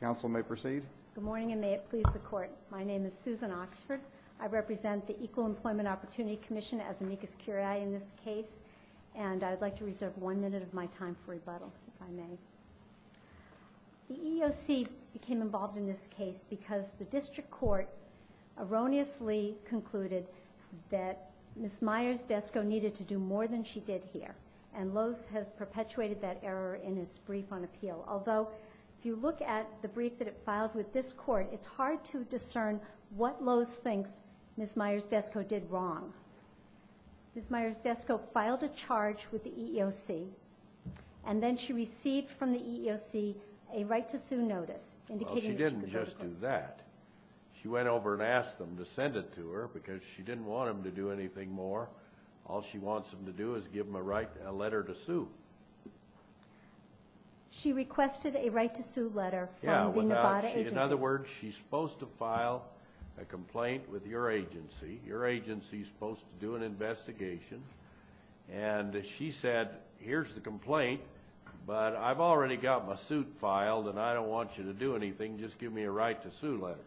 Good morning, and may it please the Court. My name is Susan Oxford. I represent the Equal Employment Opportunity Commission as amicus curiae in this case, and I would like to reserve one minute of my time for rebuttal, if I may. The EEOC became involved in this case because the District Court erroneously concluded that Ms. Myers-Desco needed to do more than she did in its brief on appeal. Although, if you look at the brief that it filed with this Court, it's hard to discern what Lowe's thinks Ms. Myers-Desco did wrong. Ms. Myers-Desco filed a charge with the EEOC, and then she received from the EEOC a right to sue notice indicating that she could go to court. Well, she didn't just do that. She went over and asked them to send it to her because she didn't want them to do anything more. All she wants them to do is give them a right, a letter to sue. She requested a right to sue letter from the Nevada agency. In other words, she's supposed to file a complaint with your agency. Your agency's supposed to do an investigation, and she said, here's the complaint, but I've already got my suit filed, and I don't want you to do anything. Just give me a right to sue letter.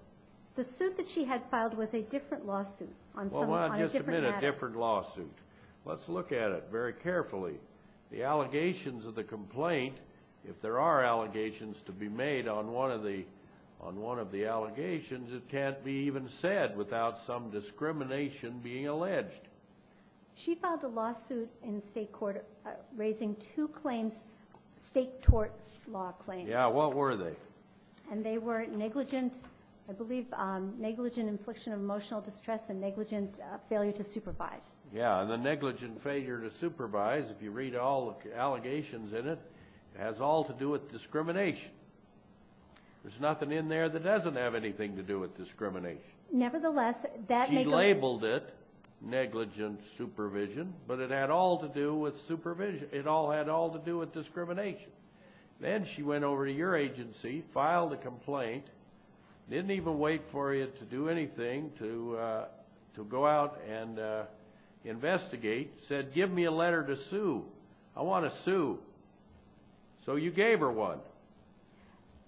The suit that she had filed was a different lawsuit on a different matter. It was a different lawsuit. Let's look at it very carefully. The allegations of the complaint, if there are allegations to be made on one of the allegations, it can't be even said without some discrimination being alleged. She filed a lawsuit in state court raising two claims, state tort law claims. Yeah, what were they? And they were negligent, I believe, negligent infliction of emotional distress and negligent failure to supervise. Yeah, and the negligent failure to supervise, if you read all the allegations in it, has all to do with discrimination. There's nothing in there that doesn't have anything to do with discrimination. She labeled it negligent supervision, but it had all to do with supervision. It had all to do with discrimination. Then she went over to your agency, filed a complaint, didn't even wait for you to do anything, to go out and investigate, said, give me a letter to sue. I want to sue. So you gave her one.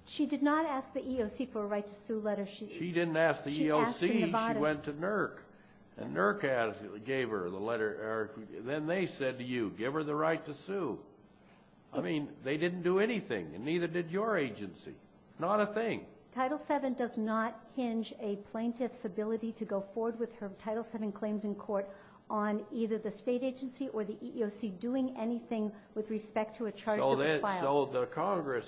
She did not ask the EOC for a right to sue letter. She didn't ask the EOC. She went to NERC, and NERC gave her the letter. Then they said to you, give her the right to sue. I mean, they didn't do anything, and neither did your agency. Not a thing. Title VII does not hinge a plaintiff's ability to go forward with her Title VII claims in court on either the state agency or the EEOC doing anything with respect to a charge that was filed. So the Congress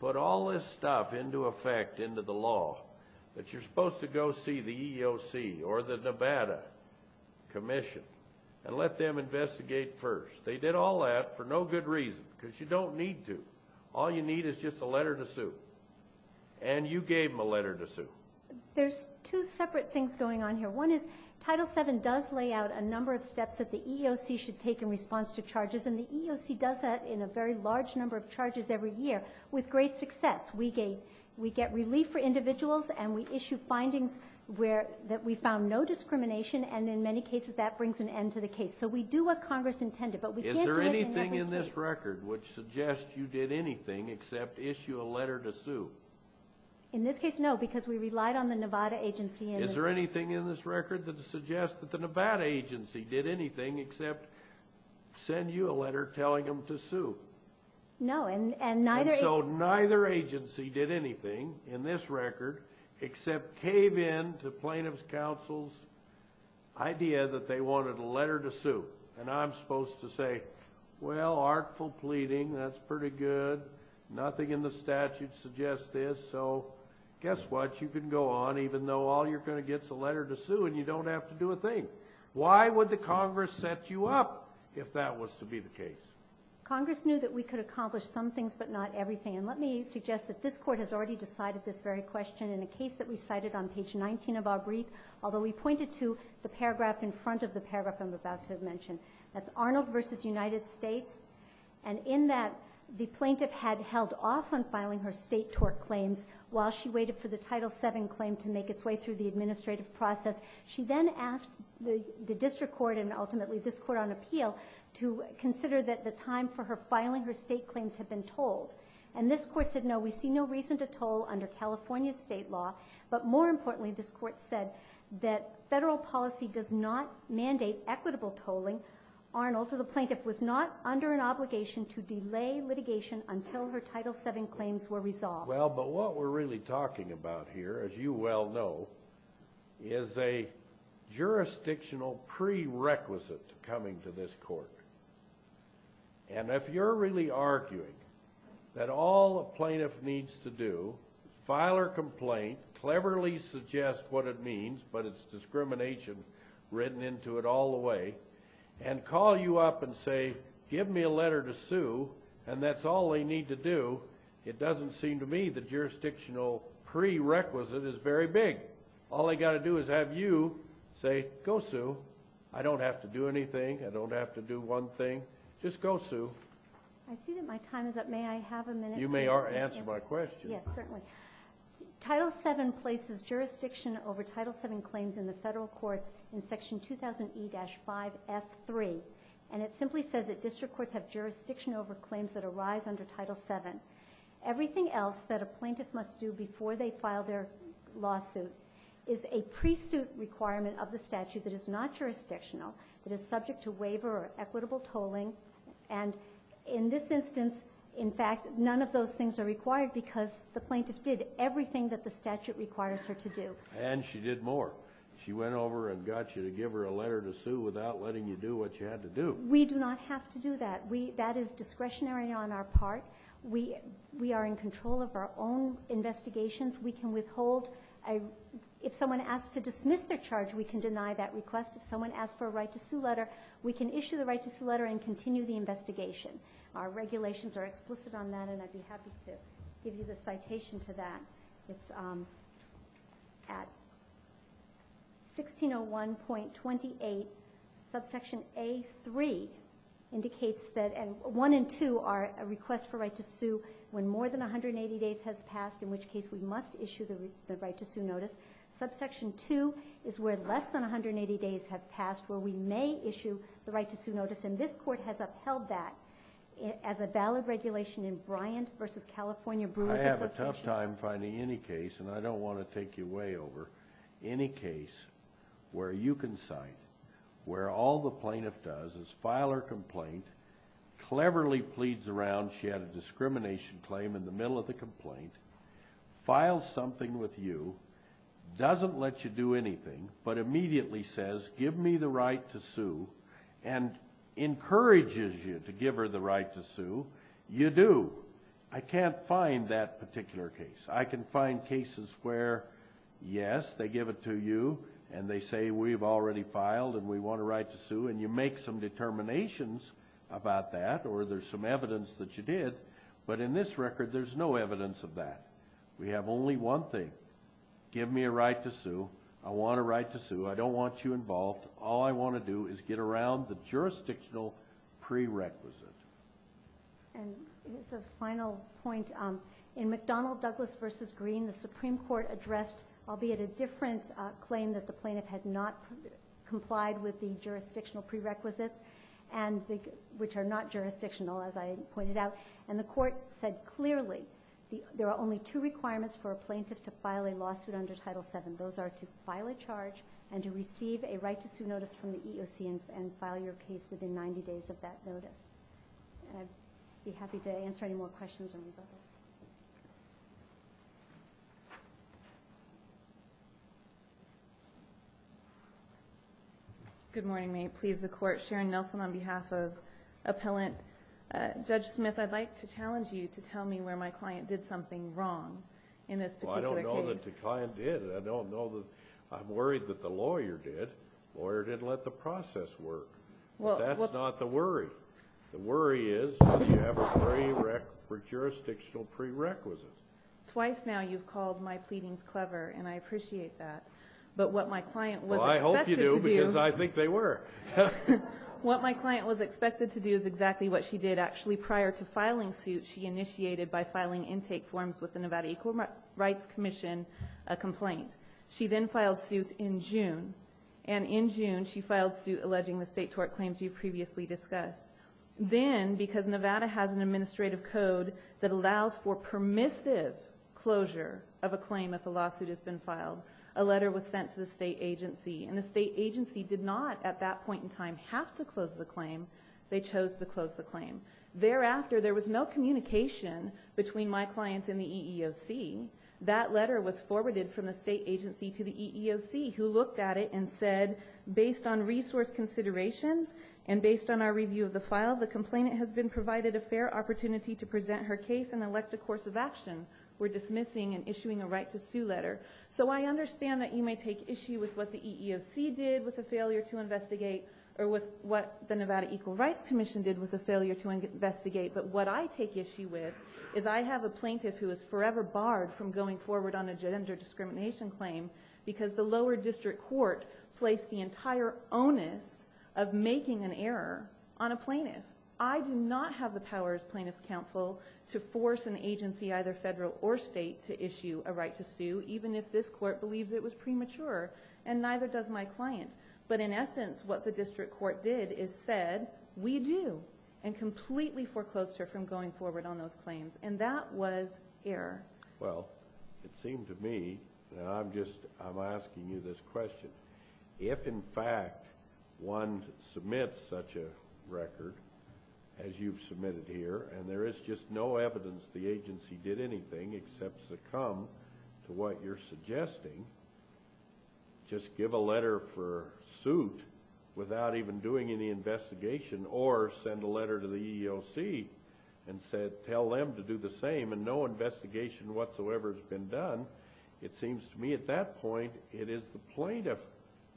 put all this stuff into effect into the law, that you're supposed to go see the EEOC or the Nevada Commission and let them investigate first. They did all that for no good reason, because you don't need to. All you need is just a letter to sue. And you gave them a letter to sue. There's two separate things going on here. One is, Title VII does lay out a number of steps that the EEOC should take in response to charges, and the EEOC does that in a very large number of charges every year, with great success. We get relief for individuals, and we issue findings that we found no discrimination, and in many cases, that brings an end to the case. So we do what Congress intended, but we can't do it in every case. Is there anything in this record which suggests you did anything except issue a letter to sue? In this case, no, because we relied on the Nevada agency and... Is there anything in this record that suggests that the Nevada agency did anything except send you a letter telling them to sue? No, and neither... And so neither agency did anything in this record except cave in to Plaintiff's Counsel's idea that they wanted a letter to sue. And I'm supposed to say, well, artful pleading, that's pretty good, nothing in the statute suggests this, so guess what? You can go on even though all you're going to get is a letter to sue, and you don't have to do a thing. Why would the Congress set you up if that was to be the case? Congress knew that we could accomplish some things but not everything, and let me suggest that this Court has already decided this very question in a case that we cited on page 19 of our brief, although we pointed to the paragraph in front of the paragraph I'm about to mention. That's Arnold v. United States, and in that, the Plaintiff had held off on filing her State Tort Claims while she waited for the Title VII claim to make its way through the administrative process. She then asked the District Court and ultimately this Court on Appeal to consider that the time for her filing her State Claims had been told, and this Court said, no, we see no reason to toll under California State law, but more importantly, this Court said that Federal policy does not mandate equitable tolling. Arnold, the Plaintiff, was not under an obligation to delay litigation until her Title VII claims were resolved. Well, but what we're really talking about here, as you well know, is a jurisdictional prerequisite to coming to this Court, and if you're really arguing that all a Plaintiff needs to do, file her complaint, cleverly suggest what it means, but it's discrimination written into it all the way, and call you up and say, give me a letter to sue, and that's all they need to do, it doesn't seem to me the jurisdictional prerequisite is very big. All they got to do is have you say, go sue. I don't have to do anything. I don't have to do one thing. Just go sue. I see that my time is up. May I have a minute You may answer my question. Yes, certainly. Title VII places jurisdiction over Title VII claims in the Federal Courts in section 2000E-5F3, and it simply says that District Courts have jurisdiction over claims that arise under Title VII. Everything else that a Plaintiff must do before they file their lawsuit is a pre-suit requirement of the statute that is not jurisdictional, that is subject to waiver or equitable tolling, and in this instance, in fact, none of those things are required because the Plaintiff did everything that the statute requires her to do. And she did more. She went over and got you to give her a letter to sue without letting you do what you had to do. We do not have to do that. That is discretionary on our part. We are in control of our own investigations. We can withhold. If someone asks to dismiss their charge, we can deny that request. If someone asks for a right to sue, we can dismiss the letter and continue the investigation. Our regulations are explicit on that, and I'd be happy to give you the citation to that. It's at 1601.28, subsection A-3 indicates that 1 and 2 are a request for right to sue when more than 180 days has passed, in which case we must issue the right to sue notice. Subsection 2 is where less than 180 days have passed, where we may issue the right to sue notice, and this Court has upheld that as a valid regulation in Bryant v. California Brewery Association. I have a tough time finding any case, and I don't want to take you way over, any case where you can cite where all the Plaintiff does is file her complaint, cleverly pleads around she had a discrimination claim in the middle of the complaint, files something with you, doesn't let you do anything, but immediately says, give me the right to sue, and encourages you to give her the right to sue, you do. I can't find that particular case. I can find cases where, yes, they give it to you, and they say, we've already filed, and we want a right to sue, and you make some determinations about that, or there's some evidence that you did, but in this record, there's no evidence of that. We have only one thing. Give me a right to sue. I want a right to sue. I don't want you involved. All I want to do is get around the jurisdictional prerequisite. And as a final point, in McDonnell Douglas v. Green, the Supreme Court addressed, albeit a different claim that the Plaintiff had not complied with the jurisdictional prerequisites, which are not jurisdictional, as I pointed out, and the Court said clearly, there are only two requirements for a Plaintiff to file a lawsuit under Title VII. Those are to file a charge, and to receive a right to sue notice from the EOC, and file your case within 90 days of that notice. And I'd be happy to answer any more questions on these items. Good morning. May it please the Court. Sharon Nelson on behalf of Appellant Judge Smith, I'd like to challenge you to tell me where my client did something wrong in this particular case. Well, I don't know that the client did it. I don't know that. I'm worried that the lawyer did. The lawyer didn't let the process work. That's not the worry. The worry is that you don't have a jurisdictional prerequisite. Twice now you've called my pleadings clever, and I appreciate that. But what my client was expected to do... Well, I hope you do, because I think they were. What my client was expected to do is exactly what she did actually prior to filing suit she initiated by filing intake forms with the Nevada Equal Rights Commission, a complaint. She then filed suit in June. And in June, she filed suit alleging the state tort claims you previously discussed. Then, because Nevada has an administrative code that allows for permissive closure of a claim if a lawsuit has been filed, a letter was sent to the state agency. And the state agency did not at that point in time have to close the claim. They chose to close the claim. Thereafter, there was no communication between my client and the EEOC. That letter was forwarded from the state agency to the EEOC, who looked at it and said, based on resource considerations and based on our review of the file, the complainant has been provided a fair opportunity to present her case and elect a course of action. We're dismissing and issuing a right to sue letter. So I understand that you may take issue with what the EEOC did with the failure to investigate, or with what the Nevada Equal Rights Commission did with the failure to investigate. But what I take issue with is I have a plaintiff who is forever barred from going forward on a gender discrimination claim because the lower district court placed the entire onus of making an error on a plaintiff. I do not have the power as plaintiff's counsel to force an agency, either federal or state, to issue a right to sue, even if this court believes it was premature. And neither does my client. But in essence, what the district court did is said, we do, and completely foreclosed her from going forward on those claims. And that was error. Well, it seemed to me, and I'm just, I'm asking you this question, if in fact one submits such a record, as you've submitted here, and there is just no evidence the agency did anything except succumb to what you're suggesting, just give a letter for suit without even doing any investigation, or send a letter to the EEOC and tell them to do the same and no investigation whatsoever has been done, it seems to me at that point it is the plaintiff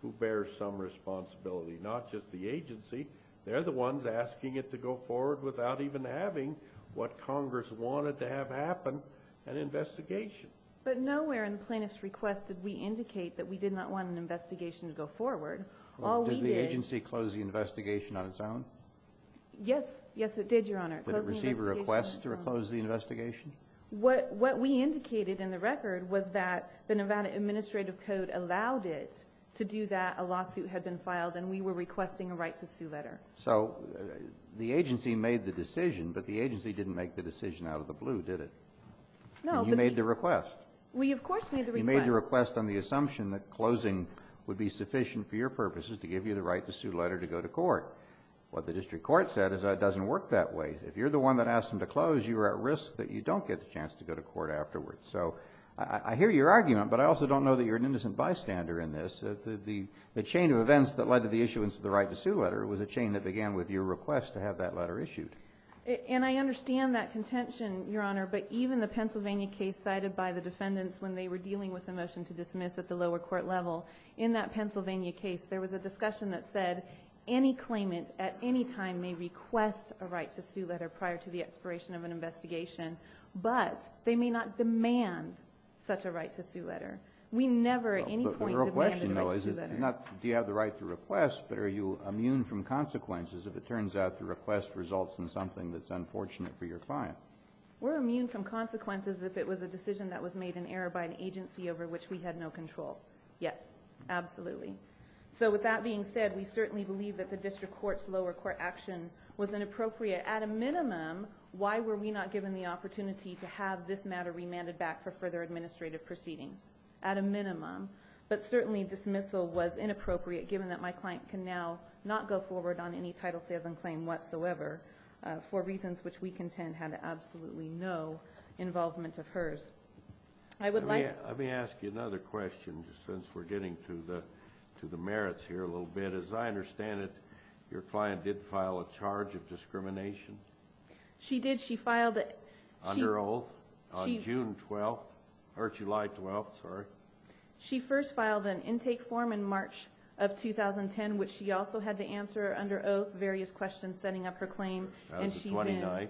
who bears some responsibility, not just the agency. They're the ones asking it to go forward without even having what Congress wanted to have happen, an investigation. But nowhere in the plaintiff's request did we indicate that we did not want an investigation to go forward. All we did... Did the agency close the investigation on its own? Yes, yes it did, Your Honor. Did it receive a request to close the investigation? What we indicated in the record was that the Nevada Administrative Code allowed it to do that, a lawsuit had been filed, and we were requesting a right to sue letter. So the agency made the decision, but the agency didn't make the decision out of the blue, did it? No, but... And you made the request. We of course made the request. You made the request on the assumption that closing would be sufficient for your purposes to give you the right to sue letter to go to court. What the district court said is that it doesn't work that way. If you're the one that asked them to close, you are at risk that you don't get the chance to go to court afterwards. So I hear your argument, but I also don't know that you're an innocent bystander in this. The chain of events that led to the issuance of the right to sue letter was a chain that began with your request to have that letter issued. And I understand that contention, Your Honor, but even the Pennsylvania case cited by the defendants when they were dealing with the motion to dismiss at the lower court level, in that Pennsylvania case there was a discussion that said any claimant at any time may request a right to sue letter prior to the expiration of an investigation, but they may not demand such a right to sue letter. We never at any point demanded a right to sue letter. But the real question though is not do you have the right to request, but are you immune from consequences if it turns out the request results in something that's unfortunate for your client? We're immune from consequences if it was a decision that was made in error by an agency over which we had no control. Yes, absolutely. So with that being said, we certainly believe that the district court's lower court action was inappropriate. At a minimum, why were we not given the opportunity to have this matter remanded back for further administrative proceedings? At a minimum. But certainly dismissal was inappropriate given that my client can now not go forward on any title sales and claim whatsoever for reasons which we contend had absolutely no involvement of hers. I would like... Let me ask you another question since we're getting to the merits here a little bit. As I understand it, your client did file a charge of discrimination? She did. She filed... Under oath? On June 12th, or July 12th, sorry. She first filed an intake form in March of 2010, which she also had to answer under oath various questions setting up her claim. On the 29th?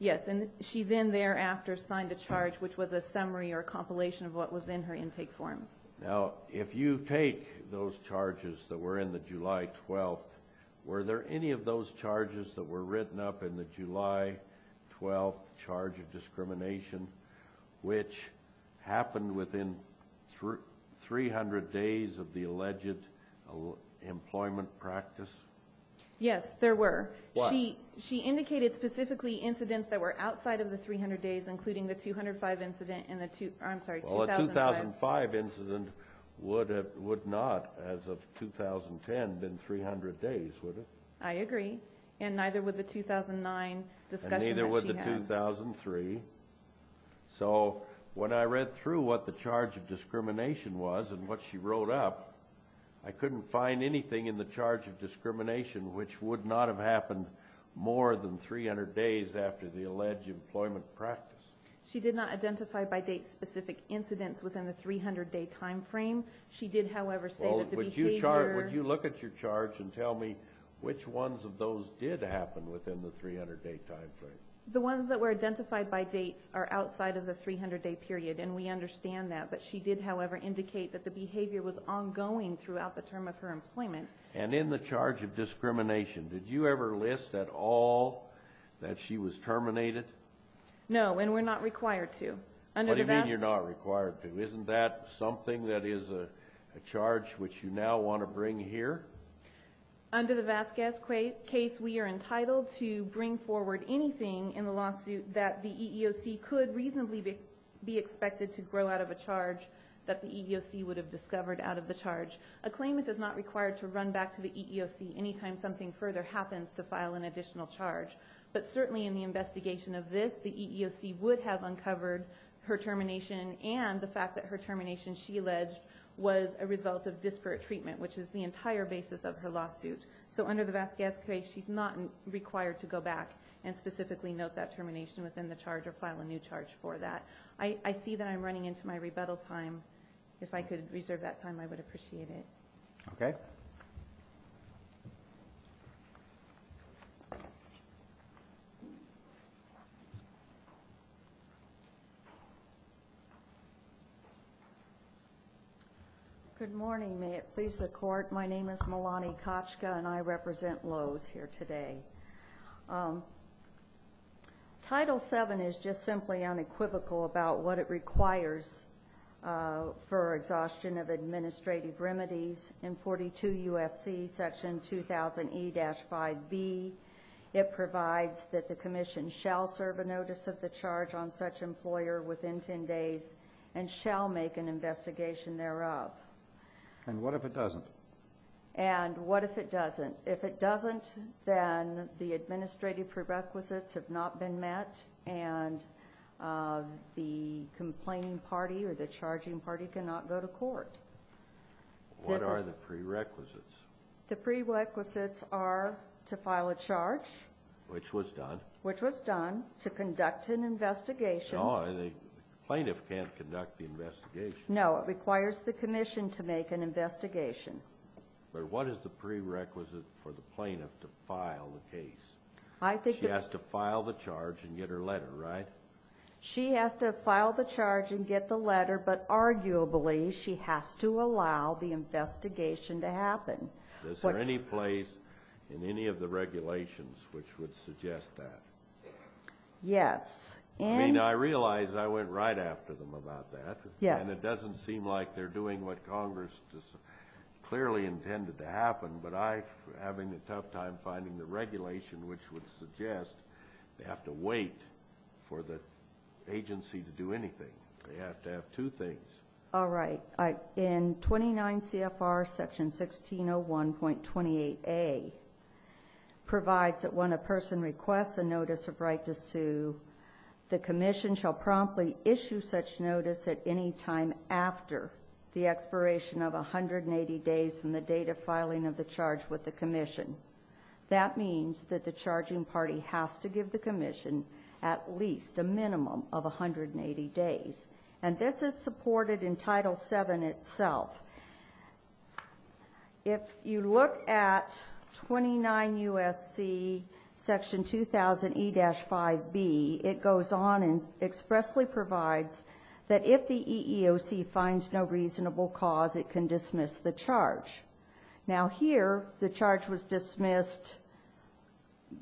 Yes. And she then thereafter signed a charge, which was a summary or a compilation of what was in her intake forms. Now, if you take those charges that were in the July 12th, were there any of those charges that were written up in the July 12th charge of discrimination, which happened within 300 days of the alleged employment practice? Yes, there were. Why? She indicated specifically incidents that were outside of the 300 days, including the 205 incident and the... I'm sorry, 2005. The 2005 incident would not, as of 2010, have been 300 days, would it? I agree. And neither would the 2009 discussion that she had. And neither would the 2003. So when I read through what the charge of discrimination was and what she wrote up, I couldn't find anything in the charge of discrimination which would not have happened more than 300 days after the alleged employment practice. She did not identify by date specific incidents within the 300-day time frame. She did, however, state that the behavior... Well, would you look at your charge and tell me which ones of those did happen within the 300-day time frame? The ones that were identified by date are outside of the 300-day period, and we understand that. But she did, however, indicate that the behavior was ongoing throughout the term of her employment. And in the charge of discrimination, did you ever list at all that she was terminated? No. No, and we're not required to. What do you mean you're not required to? Isn't that something that is a charge which you now want to bring here? Under the Vasquez case, we are entitled to bring forward anything in the lawsuit that the EEOC could reasonably be expected to grow out of a charge that the EEOC would have discovered out of the charge. A claimant is not required to run back to the EEOC any time something further happens to file an additional charge. But certainly in the investigation of this, the EEOC would have uncovered her termination and the fact that her termination, she alleged, was a result of disparate treatment, which is the entire basis of her lawsuit. So under the Vasquez case, she's not required to go back and specifically note that termination within the charge or file a new charge for that. I see that I'm running into my rebuttal time. If I could reserve that time, I would appreciate it. Okay. Thank you. Good morning. May it please the Court. My name is Melanie Kochka and I represent Lowe's here today. Title VII is just simply unequivocal about what it requires for exhaustion of administrative remedies in 42 U.S.C. section 2000E-5B. It provides that the Commission shall serve a notice of the charge on such employer within 10 days and shall make an investigation thereof. And what if it doesn't? And what if it doesn't? If it doesn't, then the administrative prerequisites have not been met and the complaining party or the charging party cannot go to court. What are the prerequisites? The prerequisites are to file a charge. Which was done. Which was done. To conduct an investigation. No, the plaintiff can't conduct the investigation. No, it requires the Commission to make an investigation. But what is the prerequisite for the plaintiff to file the case? She has to file the charge and get her letter, right? She has to file the charge and get the letter, but arguably she has to allow the investigation to happen. Is there any place in any of the regulations which would suggest that? Yes. I mean, I realize I went right after them about that, and it doesn't seem like they're doing what Congress clearly intended to happen, but I'm having a tough time finding the regulation which would suggest they have to wait for the agency to do anything. They have to have two things. All right. In 29 CFR section 1601.28A provides that when a person requests a notice of right to sue, the Commission shall promptly issue such notice at any time after the expiration of 180 days from the date of filing of the charge with the Commission. That means that the charging party has to give the Commission at least a minimum of If you look at 29 U.S.C. section 2000 E-5B, it goes on and expressly provides that if the EEOC finds no reasonable cause, it can dismiss the charge. Now here, the charge was dismissed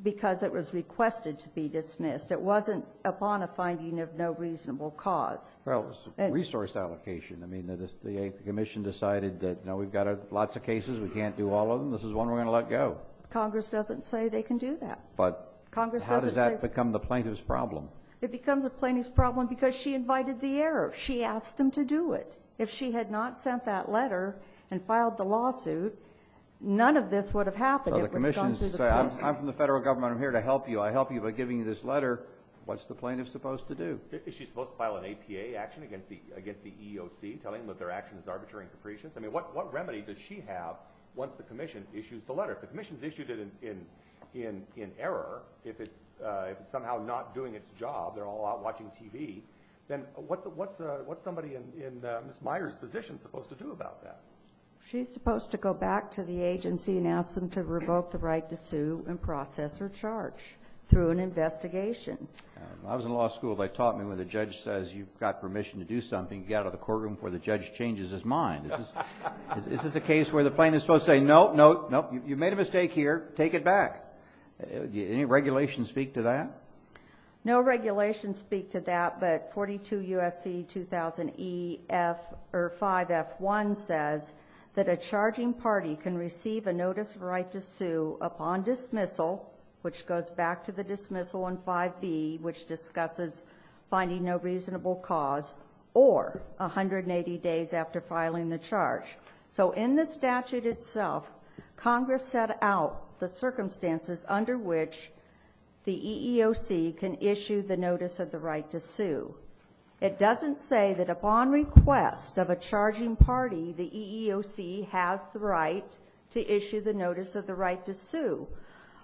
because it was requested to be dismissed. It wasn't upon a finding of no reasonable cause. Well, it was a resource allocation. I mean, the Commission decided that, you know, we've got lots of cases. We can't do all of them. This is one we're going to let go. Congress doesn't say they can do that. But how does that become the plaintiff's problem? It becomes a plaintiff's problem because she invited the error. She asked them to do it. If she had not sent that letter and filed the lawsuit, none of this would have happened. It would have gone through the police. I'm from the federal government. I'm here to help you. I help you by giving you this letter. What's the plaintiff supposed to do? Is she supposed to file an APA action against the EEOC, telling them that their action is arbitrary and capricious? I mean, what remedy does she have once the Commission issues the letter? If the Commission's issued it in error, if it's somehow not doing its job, they're all out watching TV, then what's somebody in Ms. Meyer's position supposed to do about that? She's supposed to go back to the agency and ask them to revoke the right to sue and process her charge through an investigation. I was in law school. They taught me when the judge says you've got permission to do something, you get out of the courtroom before the judge changes his mind. Is this a case where the plaintiff's supposed to say, no, no, no, you made a mistake here, take it back? Any regulations speak to that? No regulations speak to that, but 42 U.S.C. 2000 E.F. or 5.F. 1 says that a charging party can receive a notice of right to sue upon dismissal, which goes back to the dismissal on 5.B., which discusses finding no reasonable cause, or 180 days after filing the charge. So in the statute itself, Congress set out the circumstances under which the EEOC can issue the notice of the right to sue. It doesn't say that upon request of a charging party, the EEOC has the right to issue the notice of the right to sue.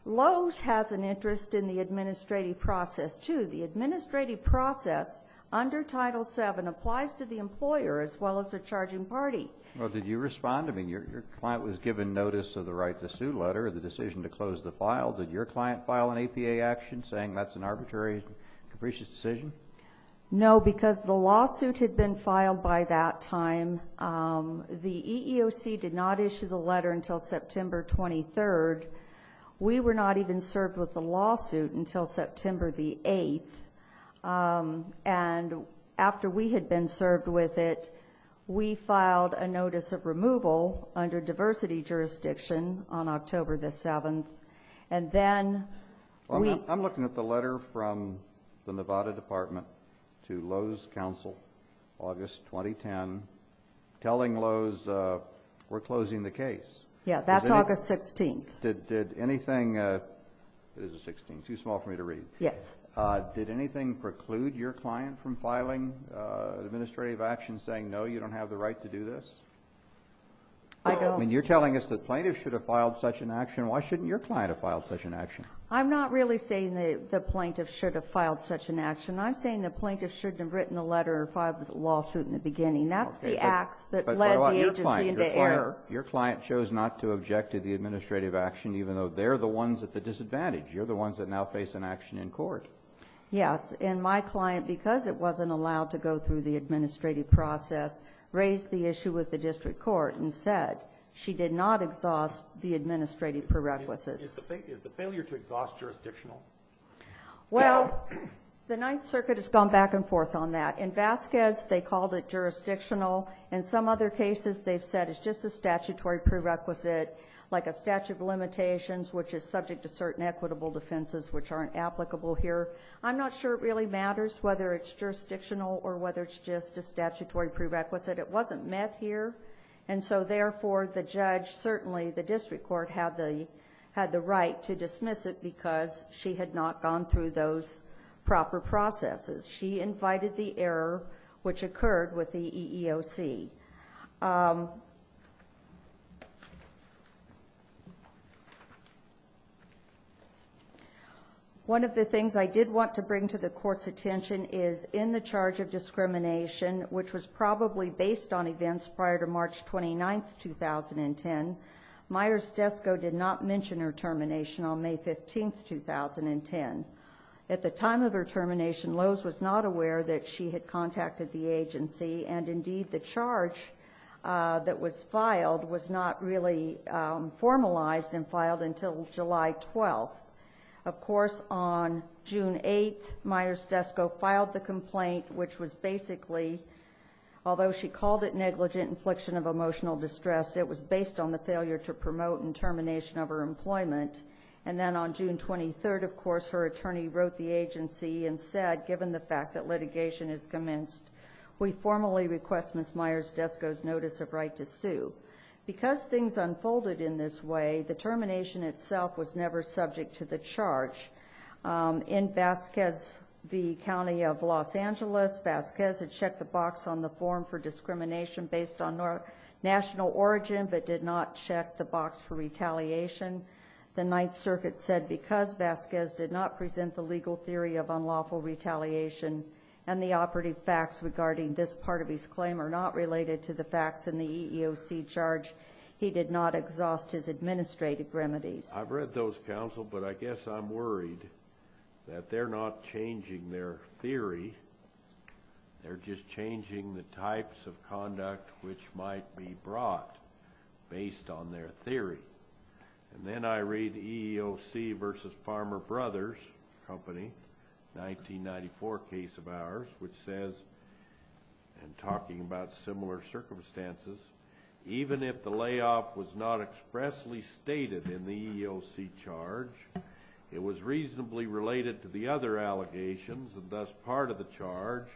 Lowe's has an interest in the administrative process, too. The administrative process under Title VII applies to the employer as well as the charging party. Well, did you respond? I mean, your client was given notice of the right to sue letter, the decision to close the file. Did your client file an APA action saying that's an arbitrary, capricious decision? No, because the lawsuit had been filed by that time. The EEOC did not issue the letter until September 23rd. We were not even served with the lawsuit until September the 8th. And after we had been served with it, we filed a notice of removal under diversity jurisdiction on October the 7th. And then we... I'm looking at the letter from the Nevada Department to Lowe's counsel, August 2010, telling Lowe's we're closing the case. Yeah, that's August 16th. Did anything... It is the 16th. Too small for me to read. Yes. Did anything preclude your client from filing an administrative action saying no, you don't have the right to do this? I don't. I mean, you're telling us the plaintiff should have filed such an action. Why shouldn't your client have filed such an action? I'm not really saying the plaintiff should have filed such an action. I'm saying the plaintiff shouldn't have written a letter or filed a lawsuit in the beginning. That's the acts that led the agency into error. Your client chose not to object to the administrative action even though they're the ones at the disadvantage. You're the ones that now face an action in court. Yes. And my client, because it wasn't allowed to go through the administrative process, raised the issue with the district court and said she did not exhaust the administrative prerequisites. Is the failure to exhaust jurisdictional? Well, the Ninth Circuit has gone back and forth on that. In Vasquez, they called it jurisdictional. In some other cases, they've said it's just a statutory prerequisite like a statute of limitations which is subject to certain equitable defenses which aren't applicable here. I'm not sure it really matters whether it's jurisdictional or whether it's just a statutory prerequisite. It wasn't met here and so therefore, the judge, certainly the district court had the right to dismiss it because she had not gone through those proper processes. She invited the error which occurred with the EEOC. One of the things I did want to bring to the court's attention is in the charge of discrimination which was probably based on events prior to March 29th, 2010, Myers-Desco did not mention her termination on May 15th, 2010. At the time of her termination, Lowe's was not aware that she had contacted the agency and indeed, the charge that was filed was not really formalized and filed until July 12th. Of course, on June 8th, Myers-Desco filed the complaint which was basically, although she called it negligent infliction of emotional distress, it was based on the failure to promote and termination of her employment. Then on June 23rd, of course, her attorney wrote the agency and said, given the fact that litigation has commenced, we formally request Ms. Myers-Desco's notice of right to sue. Because things unfolded in this way, the termination itself was never subject to the charge. In Vasquez v. County of Los Angeles, Vasquez had checked the box on the form for discrimination based on national origin but did not check the box for retaliation. The Ninth Circuit said because Vasquez did not present the legal theory of unlawful retaliation and the operative facts regarding this part of his claim are not related to the facts in the EEOC charge, he did not exhaust his administrative remedies. I've read those, counsel, but I guess I'm worried that they're not changing their theory. They're just changing the types of conduct which might be brought based on their theory. And then I read EEOC v. Farmer Brothers Company, 1994 case of ours, which says, and talking about similar circumstances, even if the layoff was not expressly stated in the EEOC charge, it was reasonably related to the other allegations and thus part of the charge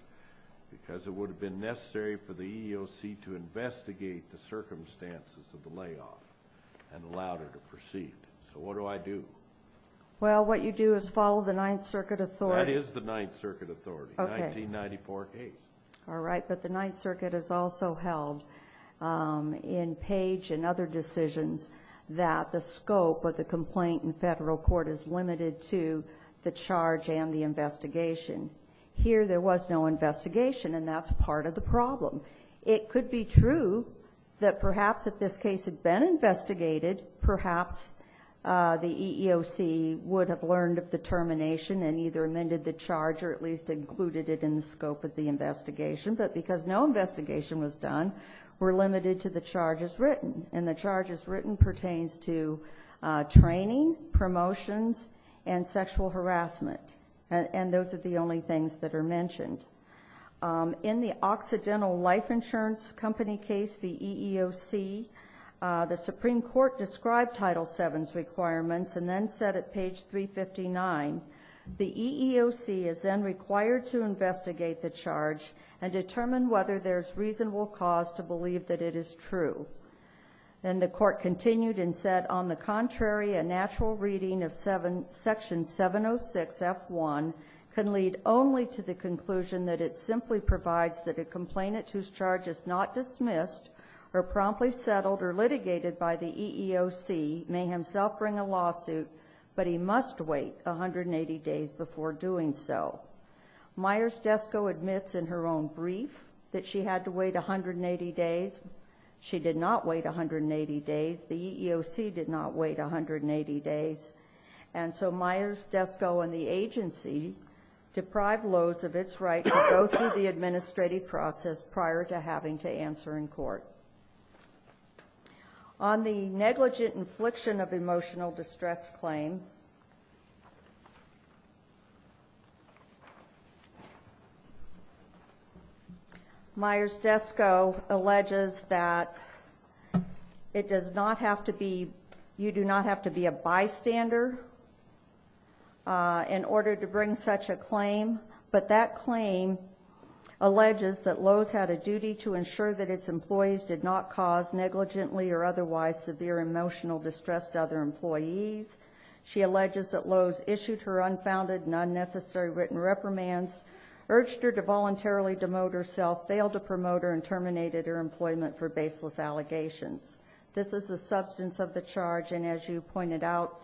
because it would have been necessary for the EEOC to investigate the circumstances of the layoff and allowed her to proceed. So what do I do? Well, what you do is follow the Ninth Circuit authority. That is the Ninth Circuit authority, 1994 case. All right. But the Ninth Circuit has also held in Page and other decisions that the scope of the complaint in federal court is limited to the charge and the investigation. Here there was no investigation, and that's part of the problem. It could be true that perhaps if this case had been investigated, perhaps the EEOC would have learned of the termination and either amended the charge or at least included it in the scope of the investigation. But because no investigation was done, we're limited to the charges written, and the charges written pertains to training, promotions, and sexual harassment. And those are the only things that are mentioned. In the Occidental Life Insurance Company case v. EEOC, the Supreme Court described Title VII's requirements and then said at Page 359, the EEOC is then required to investigate the charge and determine whether there's reasonable cause to believe that it is true. Then the court continued and said, On the contrary, a natural reading of Section 706F1 can lead only to the conclusion that it simply provides that a complainant whose charge is not dismissed or promptly settled or litigated by the EEOC may himself bring a lawsuit, but he must wait 180 days before doing so. Myers-Desco admits in her own brief that she had to wait 180 days. She did not wait 180 days. The EEOC did not wait 180 days. And so Myers-Desco and the agency deprived Lozevitz of its right to go through the administrative process prior to having to answer in court. On the negligent infliction of emotional distress claim, Myers-Desco alleges that you do not have to be a bystander in order to bring such a claim, but that claim alleges that Loze had a duty to ensure that its employees did not cause negligently or otherwise severe emotional distress to other employees. She alleges that Loze issued her unfounded and unnecessary written reprimands, urged her to voluntarily demote herself, failed to promote her, and terminated her employment for baseless allegations. This is the substance of the charge, and as you pointed out,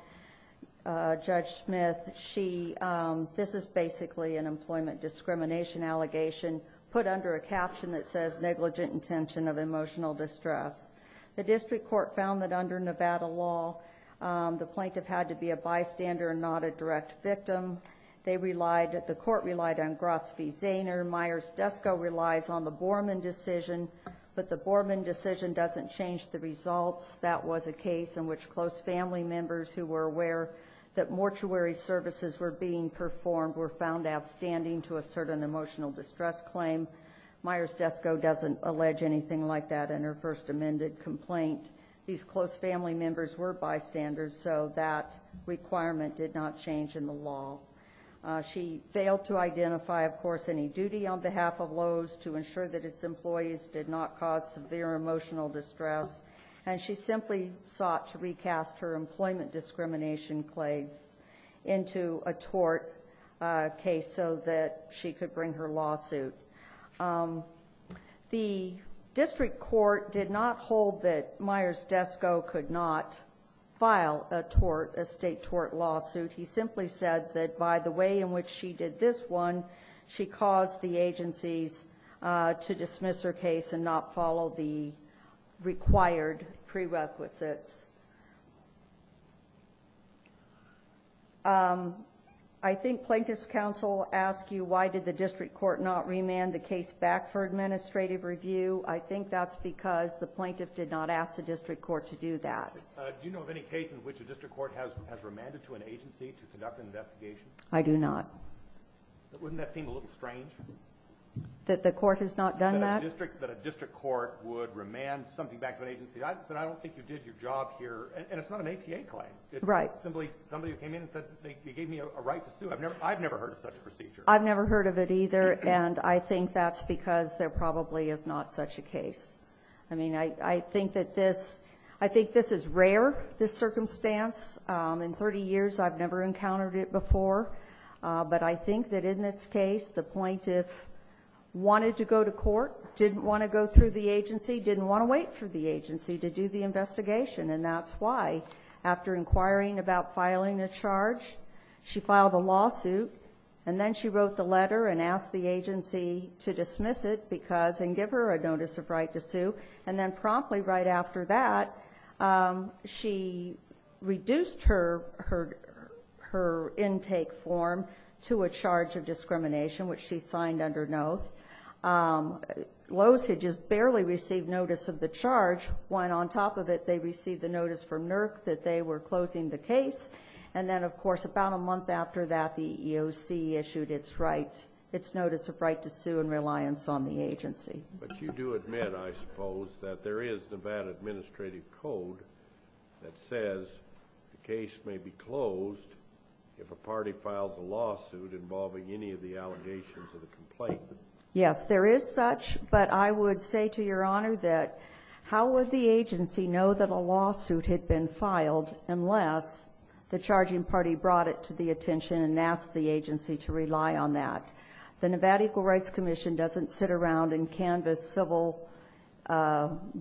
Judge Smith, this is basically an employment discrimination allegation, put under a caption that says, negligent intention of emotional distress. The district court found that under Nevada law, the plaintiff had to be a bystander and not a direct victim. The court relied on Grotz v. Zaner. Myers-Desco relies on the Borman decision, but the Borman decision doesn't change the results. That was a case in which close family members who were aware that mortuary services were being performed were found outstanding to assert an emotional distress claim. Myers-Desco doesn't allege anything like that in her first amended complaint. These close family members were bystanders, so that requirement did not change in the law. She failed to identify, of course, any duty on behalf of Loze to ensure that its employees did not cause severe emotional distress, and she simply sought to recast her employment discrimination claims into a tort case so that she could bring her lawsuit. The district court did not hold that Myers-Desco could not file a state tort lawsuit. He simply said that by the way in which she did this one, she caused the agencies to dismiss her case and not follow the required prerequisites. I think plaintiff's counsel asked you why did the district court not remand the case back for administrative review. I think that's because the plaintiff did not ask the district court to do that. Do you know of any case in which a district court has remanded to an agency to conduct an investigation? I do not. That the court has not done that? I don't think that a district court would remand something back to an agency. I don't think you did your job here, and it's not an APA claim. It's simply somebody who came in and said they gave me a right to sue. I've never heard of such a procedure. I've never heard of it either, and I think that's because there probably is not such a case. I think this is rare, this circumstance. In thirty years, I've never encountered it before, but I think that in this case, the plaintiff wanted to go to court, didn't want to go through the agency, didn't want to wait for the agency to do the investigation, and that's why after inquiring about filing a charge, she filed a lawsuit, and then she wrote the letter and asked the agency to dismiss it and give her a notice of right to sue, and then promptly right after that, she reduced her intake form to a charge of discrimination, which she signed under oath. Loews had just barely received notice of the charge, when on top of it, they received the notice from NERC that they were closing the case, and then, of course, about a month after that, the EEOC issued its notice of right to sue and reliance on the agency. But you do admit, I suppose, that there is Nevada administrative code that says the case may be closed if a party files a lawsuit involving any of the allegations of a complaint. Yes, there is such, but I would say to Your Honor that how would the agency know that a lawsuit had been filed unless the charging party brought it to the attention and asked the agency to rely on that. The Nevada Equal Rights Commission doesn't sit around and canvass civil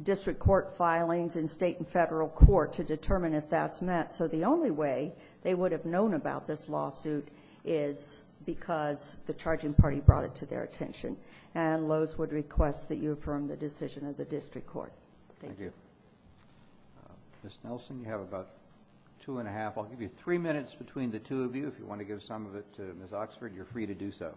district court filings in state and federal court to determine if that's met, so the only way they would have known about this lawsuit is because the charging party brought it to their attention, and Loews would request that you affirm the decision of the district court. Thank you. Ms. Nelson, you have about two and a half. I'll give you three minutes between the two of you. If you want to give some of it to Ms. Oxford, you're free to do so.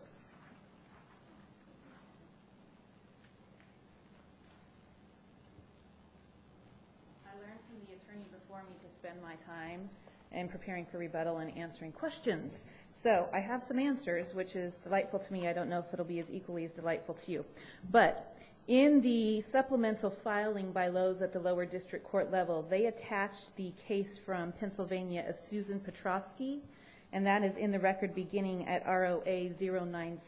I learned from the attorney before me to spend my time in preparing for rebuttal and answering questions. So I have some answers, which is delightful to me. I don't know if it will be as equally as delightful to you. But in the supplemental filing by Loews at the lower district court level, they attached the case from Pennsylvania of Susan Petrosky, and that is in the record beginning at ROA-096.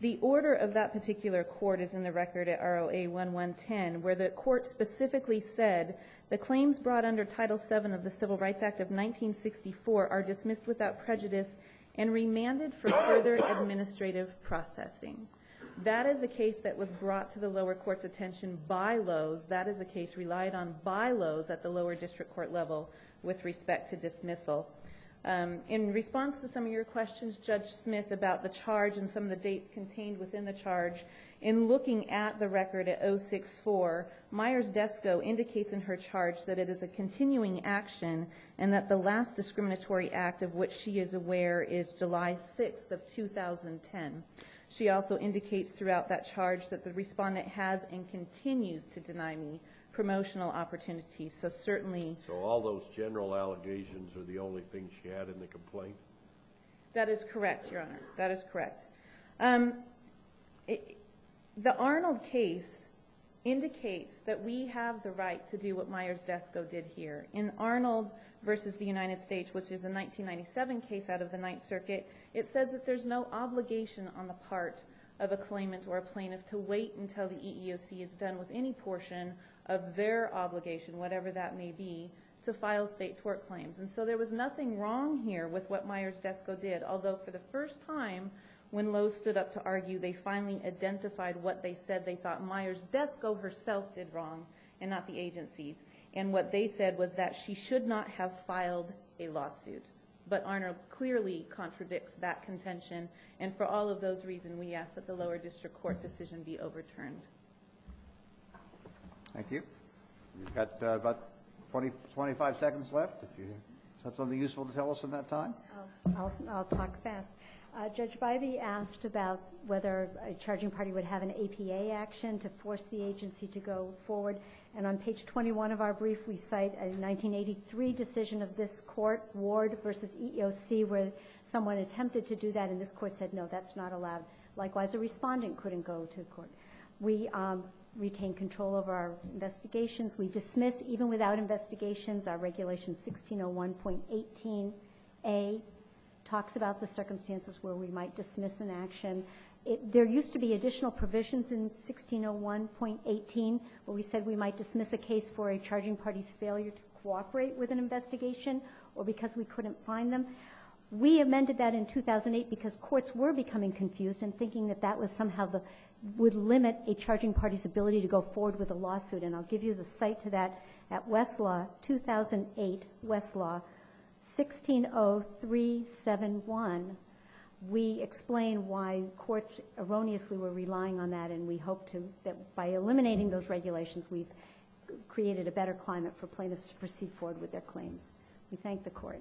The order of that particular court is in the record at ROA-1110, where the court specifically said, the claims brought under Title VII of the Civil Rights Act of 1964 are dismissed without prejudice and remanded for further administrative processing. That is a case that was brought to the lower court's attention by Loews. That is a case relied on by Loews at the lower district court level with respect to dismissal. In response to some of your questions, Judge Smith, about the charge and some of the dates contained within the charge, in looking at the record at 064, Myers-Desco indicates in her charge that it is a continuing action and that the last discriminatory act of which she is aware is July 6th of 2010. She also indicates throughout that charge that the respondent has and continues to deny me promotional opportunities. So all those general allegations are the only things she had in the complaint? That is correct, Your Honor. That is correct. The Arnold case indicates that we have the right to do what Myers-Desco did here. In Arnold v. The United States, which is a 1997 case out of the Ninth Circuit, it says that there's no obligation on the part of a claimant or a plaintiff to wait until the EEOC is done with any portion of their obligation, whatever that may be, to file state tort claims. So there was nothing wrong here with what Myers-Desco did, although for the first time, when Lowe stood up to argue, they finally identified what they said. They thought Myers-Desco herself did wrong and not the agencies. What they said was that she should not have filed a lawsuit. But Arnold clearly contradicts that contention, and for all of those reasons, we ask that the lower district court decision be overturned. Thank you. You've got about 25 seconds left. Is that something useful to tell us in that time? I'll talk fast. Judge Bivey asked about whether a charging party would have an APA action to force the agency to go forward, and on page 21 of our brief, we cite a 1983 decision of this court, Ward v. EEOC, where someone attempted to do that, and this court said, no, that's not allowed. Likewise, a respondent couldn't go to court. We retain control of our investigations. We dismiss, even without investigations, our regulation 1601.18a, talks about the circumstances where we might dismiss an action. There used to be additional provisions in 1601.18 where we said we might dismiss a case for a charging party's failure to cooperate with an investigation or because we couldn't find them. We amended that in 2008 because courts were becoming confused and thinking that that somehow would limit a charging party's ability to go forward with a lawsuit, and I'll give you the cite to that at Westlaw, 2008, Westlaw, 160371. We explain why courts erroneously were relying on that, and we hope that by eliminating those regulations, we've created a better climate for plaintiffs to proceed forward with their claims. We thank the court.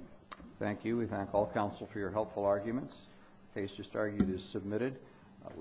Thank you. We thank all counsel for your helpful arguments. The case just argued is submitted.